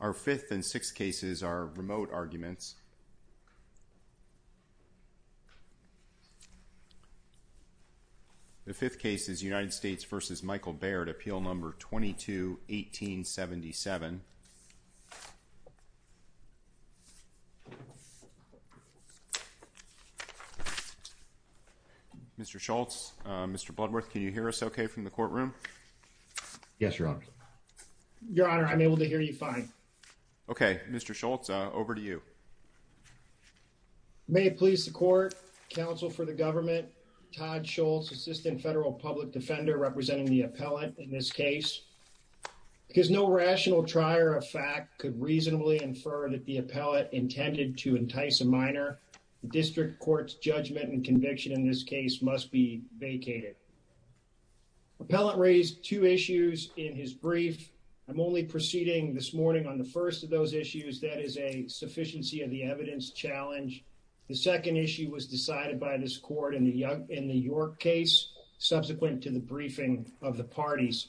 Our fifth and sixth cases are remote arguments. The fifth case is United States v. Michael Baird, Appeal No. 22-1877. Mr. Schultz, Mr. Bloodworth, can you hear us okay from the courtroom? Yes, Your Honor. I'm able to hear you fine. Okay, Mr. Schultz, over to you. May it please the Court, Counsel for the Government, Todd Schultz, Assistant Federal Public Defender representing the appellant in this case. Because no rational trier of fact could reasonably infer that the appellant intended to entice a minor, the District Court's judgment and conviction in this case must be vacated. The appellant raised two issues in his brief. I'm only proceeding this morning on the first of those issues, that is a sufficiency of the evidence challenge. The second issue was decided by this Court in the York case, subsequent to the briefing of the parties.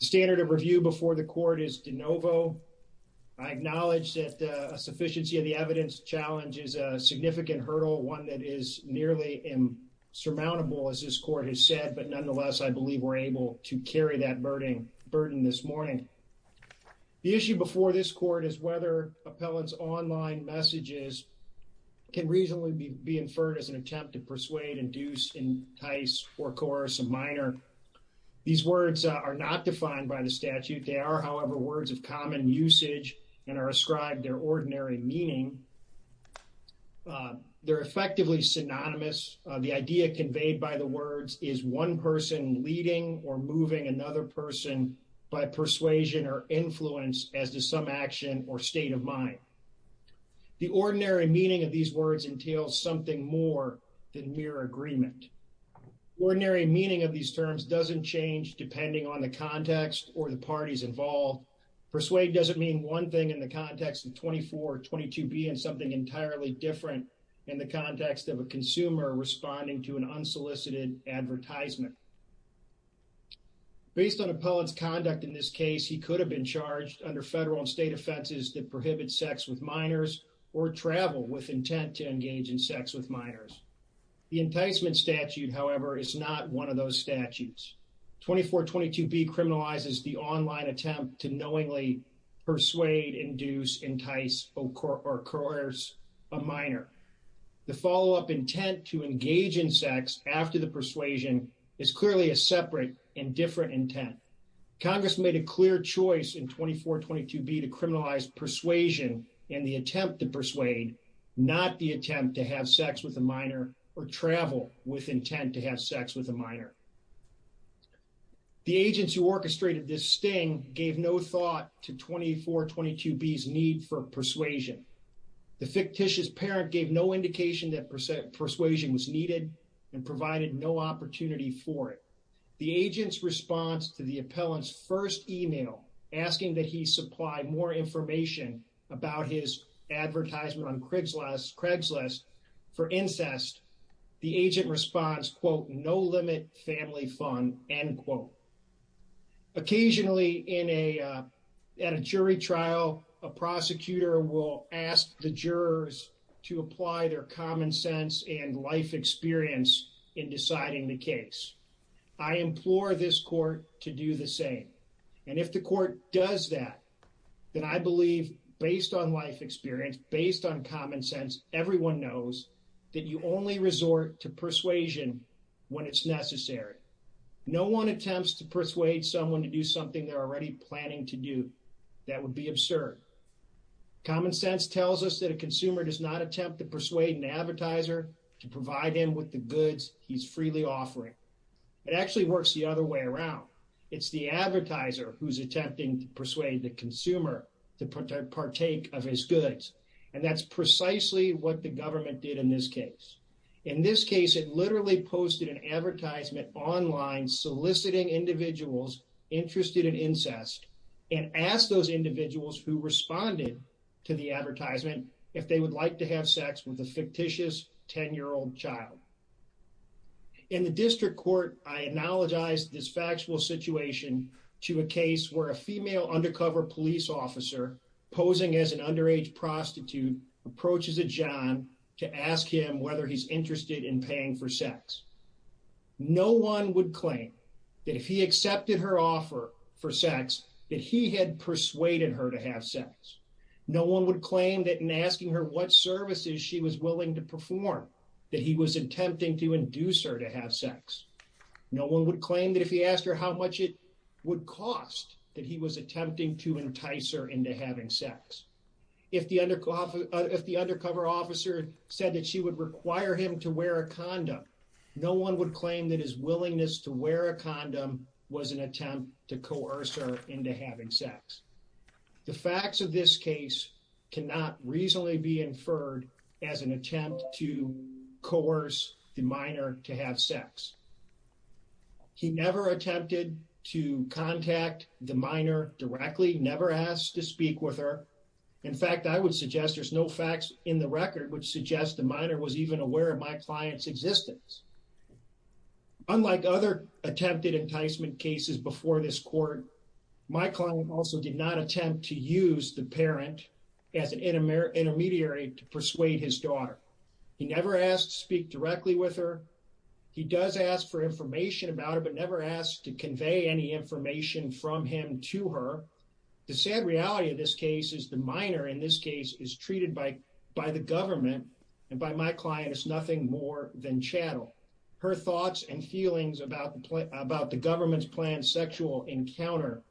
The standard of review before the Court is de novo. I acknowledge that a sufficiency of the evidence challenge is a significant hurdle, one that is nearly insurmountable, as this Court has said, but nonetheless, I believe we're able to carry that burden this morning. The issue before this Court is whether appellants' online messages can reasonably be inferred as an attempt to persuade, induce, entice, or coerce a minor. These words are not defined by the statute. They are, however, words of common usage and are ascribed their ordinary meaning. They're effectively synonymous. The idea conveyed by the words is one person leading or moving another person by persuasion or influence as to some action or state of mind. The ordinary meaning of these words entails something more than mere agreement. Ordinary meaning of these terms doesn't change depending on the context or the parties involved. Persuade doesn't mean one thing in the context of 2422B and something entirely different in the context of a consumer responding to an unsolicited advertisement. Based on appellant's conduct in this case, he could have been charged under federal and state offenses that prohibit sex with minors or travel with intent to engage in sex with minors. The enticement statute, however, is not one of those statutes. 2422B criminalizes the online attempt to knowingly persuade, induce, entice, or coerce a minor. The follow-up intent to engage in sex after the persuasion is clearly a separate and different intent. Congress made a clear choice in 2422B to criminalize persuasion and the attempt to persuade, not the attempt to have sex with a minor or travel with intent to have sex with a minor. The agents who orchestrated this sting gave no thought to 2422B's need for persuasion. The fictitious parent gave no indication that persuasion was needed and provided no opportunity for it. The agent's response to the appellant's first email asking that he supply more information about his advertisement on Craigslist for incest, the agent responds, quote, no limit family fun, end quote. Occasionally at a jury trial, a prosecutor will ask the jurors to apply their common sense and life experience in deciding the case. I implore this court to do the same. And if the court does that, then I believe based on life experience, based on common sense, everyone knows that you only resort to persuasion when it's necessary. No one attempts to persuade someone to do something they're already planning to do. That would be absurd. Common sense tells us that a consumer does not attempt to persuade an advertiser to provide him with the goods he's freely offering. It actually works the other way around. It's the advertiser who's attempting to persuade the consumer to partake of his goods. And that's precisely what the government did in this case. In this case, it literally posted an advertisement online soliciting individuals interested in incest and asked those individuals who responded to the advertisement if they would like to have sex with a fictitious 10-year-old child. In the district court, I analogize this factual situation to a case where a female undercover police officer posing as an underage prostitute approaches a John to ask him whether he's interested in paying for sex. No one would claim that if he accepted her offer for sex, that he had persuaded her to have sex. No one would claim that in asking her what services she was willing to perform, that he was attempting to induce her to have sex. No one would claim that if he asked her how much it would cost that he was attempting to entice her into having sex. If the undercover officer said that she would require him to wear a condom, no one would claim that his willingness to wear a condom was an attempt to coerce her into having sex. The facts of this case cannot reasonably be inferred as an attempt to coerce the minor to have sex. He never attempted to contact the minor directly, never asked to speak with her. In fact, I would suggest there's no facts in the record which suggest the minor was even aware of my client's existence. Unlike other attempted enticement cases before this court, my client also did not attempt to use the parent as an intermediary to persuade his daughter. He never asked to speak directly with her. He does ask for information about her, but never asked to convey any information from him to her. The sad reality of this case is the minor in this case is treated by the government and by my client as nothing more than chattel. Her thoughts and feelings about the government's planned sexual encounter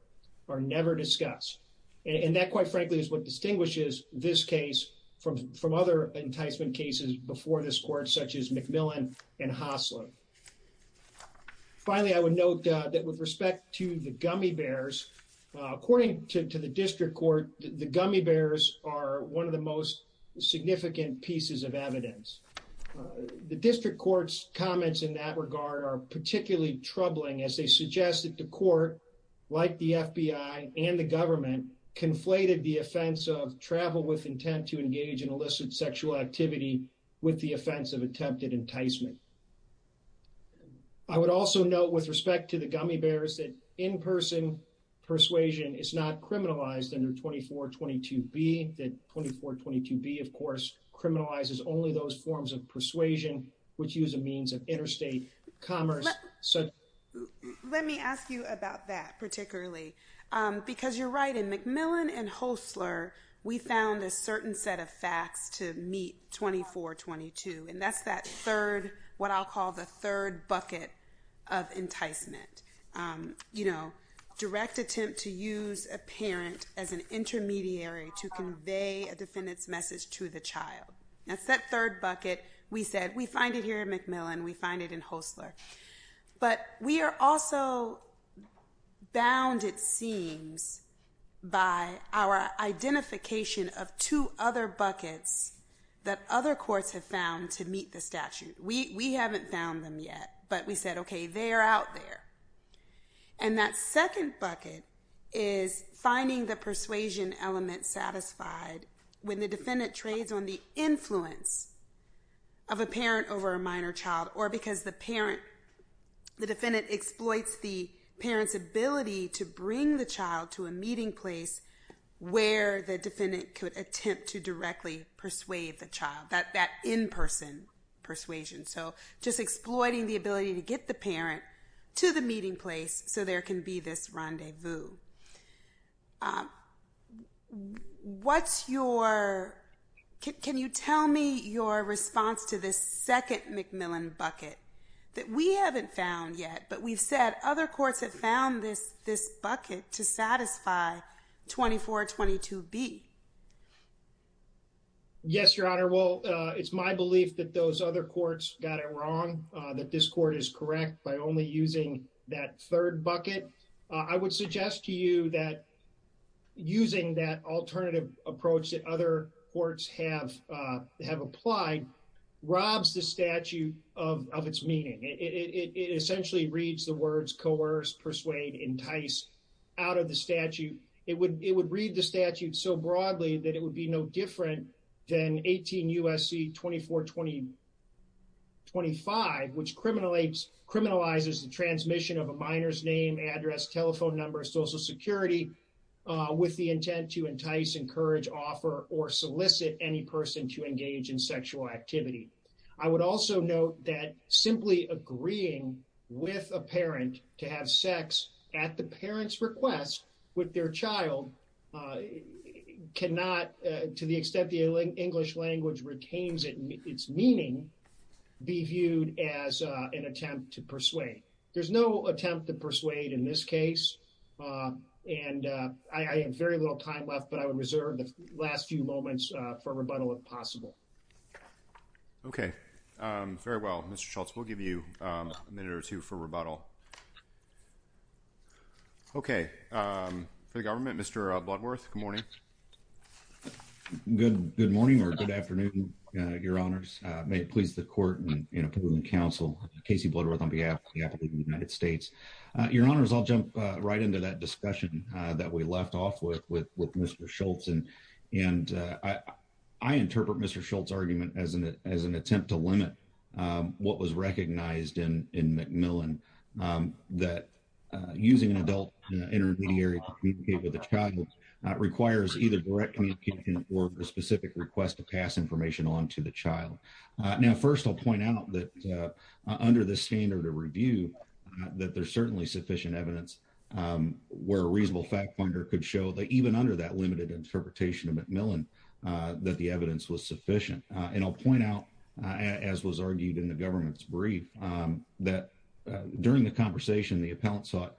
are never discussed. And that quite frankly is what distinguishes this case from other enticement cases before this court such as McMillan and Hosler. Finally, I would note that with respect to the gummy bears, according to the district court, the gummy bears are one of the most significant pieces of evidence. The district court's comments in that regard are particularly troubling as they suggest that the court, like the FBI and the government, conflated the offense of travel with intent to engage in illicit sexual activity with the offense of attempted enticement. I would also note with respect to the gummy bears that in-person persuasion is not criminalized under 2422B. 2422B, of course, criminalizes only those forms of persuasion which use a means of interstate commerce. Let me ask you about that particularly. Because you're right, in McMillan and Hosler, we found a certain set of facts to meet 2422. And that's that third, what I'll call the third bucket of enticement. You know, direct attempt to use a parent as an intermediary to convey a defendant's message to the child. That's that third bucket. We said, we find it here in McMillan, we find it in Hosler. But we are also bound, it seems, by our identification of two other buckets that other courts have found to meet the statute. We haven't found them yet, but we said, okay, they are out there. And that second bucket is finding the persuasion element satisfied when the defendant trades on the influence of a parent over a minor child or because the parent, the defendant exploits the parent's ability to bring the child to a meeting place where the defendant could attempt to directly persuade the child, that in-person persuasion. So just exploiting the ability to get the parent to the meeting place so there can be this rendezvous. What's your, can you tell me your response to this second McMillan bucket that we haven't found yet, but we've said other courts have found this bucket to satisfy 2422B? Yes, Your Honor. Well, it's my belief that those other courts got it wrong, that this court is correct by only using that third bucket. I would suggest to you that using that alternative approach that other courts have applied robs the statute of its meaning. It essentially reads the words coerce, persuade, entice out of the statute. It would read the statute so broadly that it would be no different than 18 U.S.C. 2425, which criminalizes the transmission of a minor's name, address, telephone number, social security with the intent to entice, encourage, offer, or solicit any person to engage in sexual activity. I would also note that simply agreeing with a parent to have sex at the parent's request with their child cannot, to the extent the English language retains its meaning, be viewed as an attempt to persuade. There's no attempt to persuade in this case, and I have very little time left, but I would reserve the last few moments for rebuttal if possible. Okay, very well. Mr. Schultz, we'll give you a minute or two for rebuttal. Okay, for the government, Mr. Bloodworth, good morning. Good morning or good afternoon, Your Honors. May it please the court and approve the counsel, Casey Bloodworth, on behalf of the United States. Your Honors, I'll jump right into that discussion that we left off with with Mr. Schultz, and I interpret Mr. Schultz's argument as an attempt to limit what was recognized in MacMillan, that using an adult intermediary to communicate with a child requires either direct communication or a specific request to pass information on to the child. Now, first I'll point out that under the standard of review, that there's certainly sufficient evidence where a reasonable fact finder could show that even under that limited interpretation of MacMillan, that the evidence was sufficient. And I'll point out, as was argued in the government's brief, that during the conversation, the appellant sought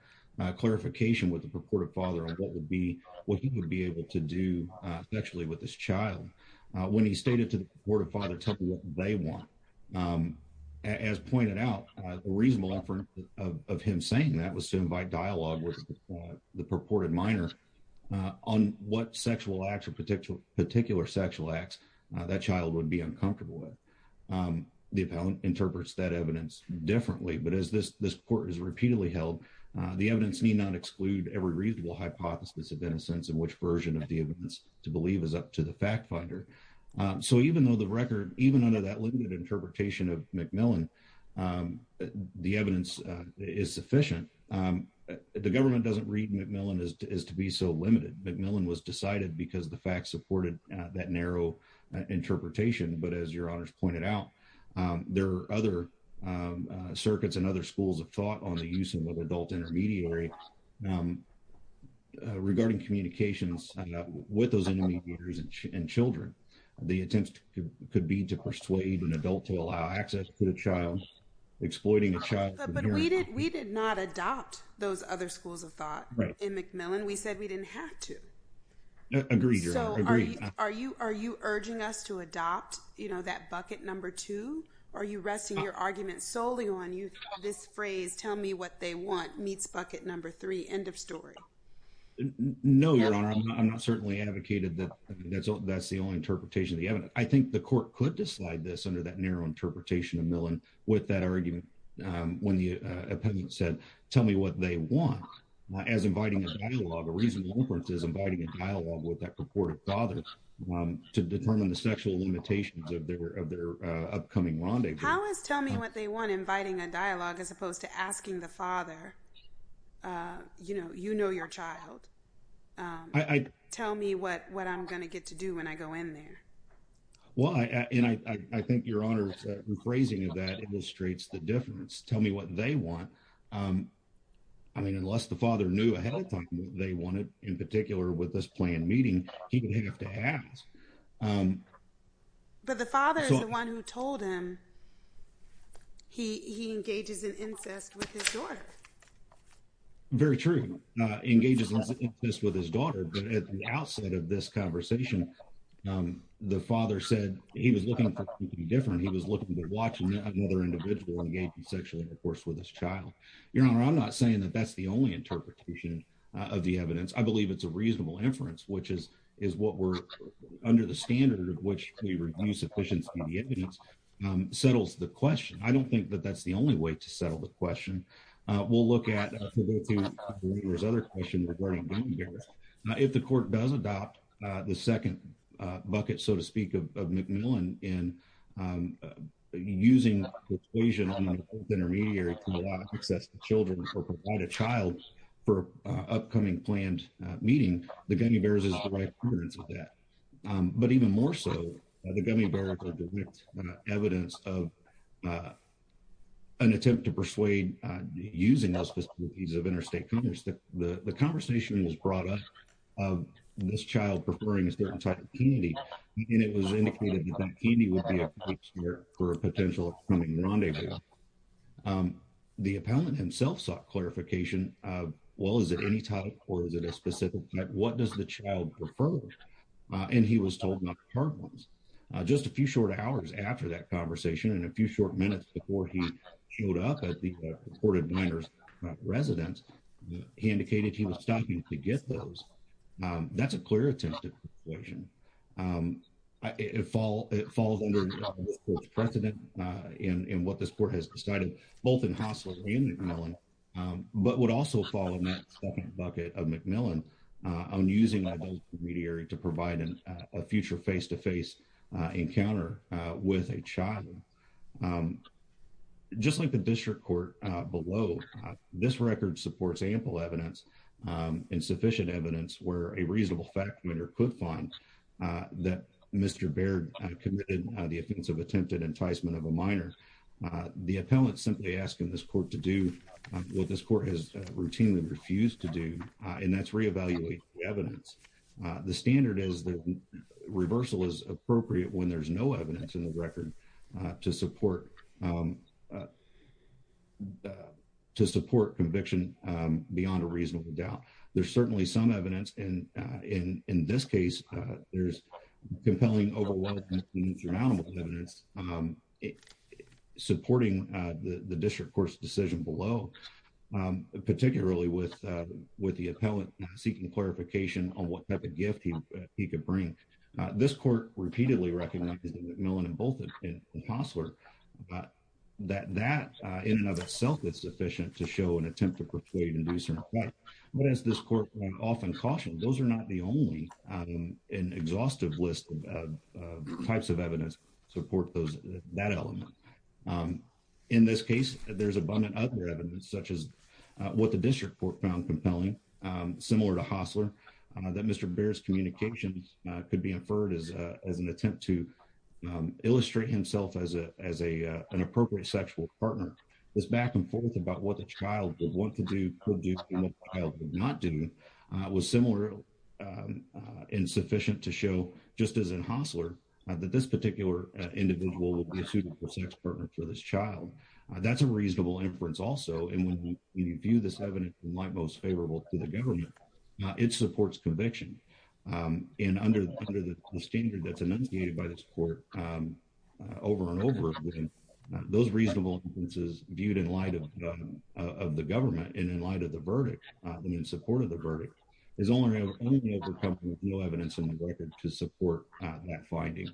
clarification with the purported father on what he would be able to do sexually with this child. When he stated to the purported father, tell them what they want. As pointed out, a reasonable effort of him saying that was to invite dialogue with the purported minor on what sexual acts or particular sexual acts that child would be uncomfortable with. The appellant interprets that evidence differently, but as this court has repeatedly held, the evidence need not exclude every reasonable hypothesis of innocence and which version of the evidence to believe is up to the fact finder. So even though the record, even under that limited interpretation of MacMillan, the evidence is sufficient, the government doesn't read MacMillan as to be so limited. MacMillan was decided because the facts supported that narrow interpretation. But as your honors pointed out, there are other circuits and other schools of thought on the use of adult intermediary regarding communications with those intermediaries and children. The attempt could be to persuade an adult to allow access to the child, exploiting a child. But we did not adopt those other schools of thought in MacMillan. We said we didn't have to. Agreed. Are you urging us to adopt that bucket number two? Are you resting your argument solely on you? This phrase, tell me what they want, meets bucket number three, end of story. No, your honor. I'm not certainly advocated that that's the only interpretation of the evidence. I think the court could decide this under that narrow interpretation of Millan with that argument. When the opinion said, tell me what they want, as inviting a dialogue, a reasonable inference is inviting a dialogue with that purported father to determine the sexual limitations of their upcoming rendezvous. How is tell me what they want inviting a dialogue as opposed to asking the father, you know, you know your child. I... Tell me what I'm going to get to do when I go in there. Well, and I think your honor's phrasing of that illustrates the difference. Tell me what they want. I mean, unless the father knew ahead of time what they wanted, in particular with this planned meeting, he didn't have to ask. But the father is the one who told him he engages in incest with his daughter. Very true. Engages in incest with his daughter, but at the outset of this conversation, the father said he was looking for something different. He was looking to watch another individual engage in sexual intercourse with his child. Your honor, I'm not saying that that's the only interpretation of the evidence. I believe it's a reasonable inference, which is what we're, under the standard of which we review sufficiency of the evidence, settles the question. I don't think that that's the only way to settle the question. We'll look at, if the court does adopt the second bucket, so to speak, of McMillan in using the equation on the fourth intermediary to allow access to children or provide a child for upcoming planned meeting, the gummy bears is the right inference of that. But even more so, the gummy bears are direct evidence of an attempt to persuade using those facilities of interstate commerce. The conversation was brought up of this child preferring a certain type of candy, and it was indicated that the candy would be appropriate for a potential upcoming rendezvous. The appellant himself sought clarification. Well, is it any type or is it a specific type? What does the child prefer? And he was told not the hard ones. Just a few short hours after that conversation and a few short minutes before he showed up at the reported minor's residence, he indicated he was stopping to get those. That's a clear attempt at persuasion. It falls under the court's precedent in what this court has decided, both in Hossler and McMillan, but would also fall in that second bucket of McMillan on using that intermediary to provide a future face-to-face encounter with a child. Just like the district court below, this record supports ample evidence and sufficient evidence where a reasonable fact-finder could find that Mr. Baird committed the offense of attempted enticement of a minor. The appellant's simply asking this court to do what this court has routinely refused to do, and that's re-evaluate the evidence. The standard is that reversal is appropriate when there's no evidence in the record to support conviction beyond a reasonable doubt. There's certainly some evidence, and in this case, there's compelling, overwhelming, and insurmountable evidence supporting the district court's decision below, particularly with the appellant seeking clarification on what type of gift he could bring. This court repeatedly recognized in McMillan and both in Hossler that that in and of itself is sufficient to show an attempt to persuade and do certain things, but as this court often cautioned, those are not the only and exhaustive list of types of evidence to support that element. In this case, there's abundant other evidence such as what the district court found compelling, similar to Hossler, that Mr. Baird's communication could be inferred as an attempt to illustrate himself as an appropriate sexual partner. This back-and-forth about what the child could want to do, could do, and what the child could not do was similar and sufficient to show, just as in Hossler, that this particular individual will be a suitable sex partner for this child. That's a reasonable inference also, and when you view this evidence in light most favorable to the government, it supports conviction. And under the standard that's enunciated by this court over and over again, those reasonable inferences viewed in light of the government and in light of the verdict, and in support of the verdict, is only able to come with no evidence in the record to support that finding.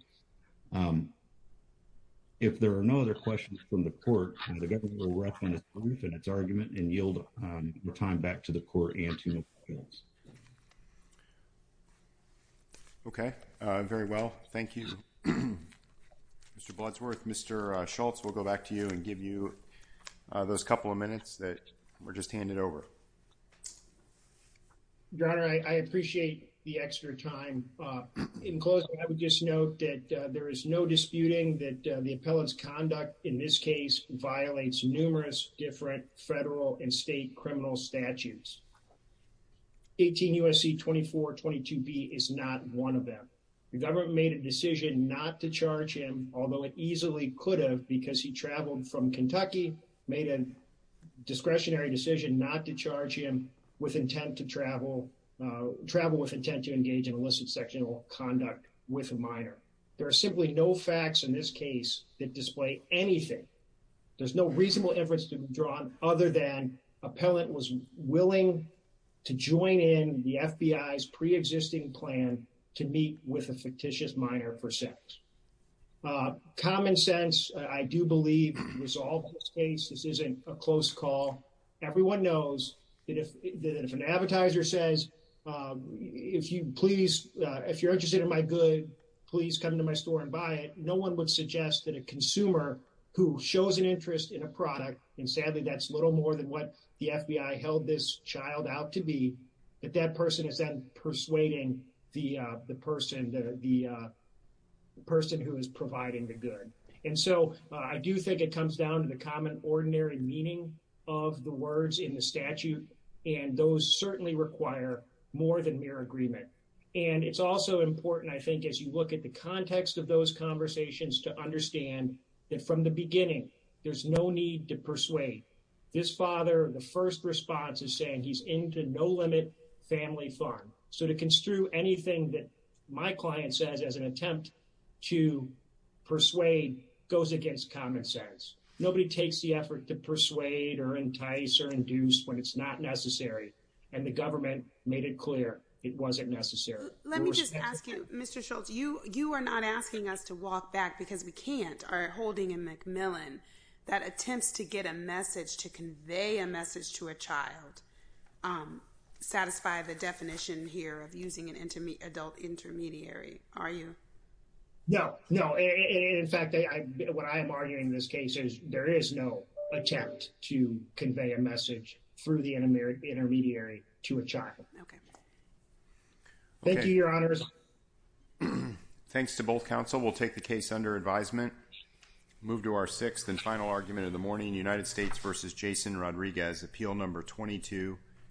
If there are no other questions from the court, the government will roughen its roof and its argument and yield the time back to the court and to the appeals. Okay, very well. Thank you. Mr. Blodsworth, Mr. Schultz, we'll go back to you and give you those couple of minutes that were just handed over. Your Honor, I appreciate the extra time. In closing, I would just note that there is no disputing that the appellant's conduct in this case violates numerous different federal and state criminal statutes. 18 U.S.C. 2422B is not one of them. The government made a decision not to charge him, since he traveled from Kentucky, made a discretionary decision not to charge him with intent to travel, travel with intent to engage in illicit sexual conduct with a minor. There are simply no facts in this case that display anything. There's no reasonable inference to be drawn other than appellant was willing to join in the FBI's pre-existing plan to meet with a fictitious minor for sex. Common sense, I do believe, resolves this case. This isn't a close call. Everyone knows that if an advertiser says, please, if you're interested in my good, please come to my store and buy it, no one would suggest that a consumer who shows an interest in a product, and sadly, that's little more than what the FBI held this child out to be, that that person is then persuading the person who is providing the good. And so, I do think it comes down to the common ordinary meaning of the words in the statute, and those certainly require more than mere agreement. And it's also important, I think, as you look at the context of those conversations to understand that from the beginning, there's no need to persuade. This father, the first response is saying he's into no limit family fun. So to construe anything that my client says as an attempt to persuade goes against common sense. Nobody takes the effort to persuade or entice or induce when it's not necessary, and the government made it clear it wasn't necessary. Let me just ask you, Mr. Schultz, to walk back because we can't. Our holding in McMillan that attempts to get a message, to convey a message to a child, satisfy the definition here of using an adult intermediary. Are you? No. In fact, what I'm arguing in this case is there is no attempt to convey a message through the intermediary to a child. Thank you, Your Honors. Thanks to both counsel. We'll take the case under advisement. Move to our sixth and final argument of the morning. United States versus Jason Rodriguez, Appeal Number 22.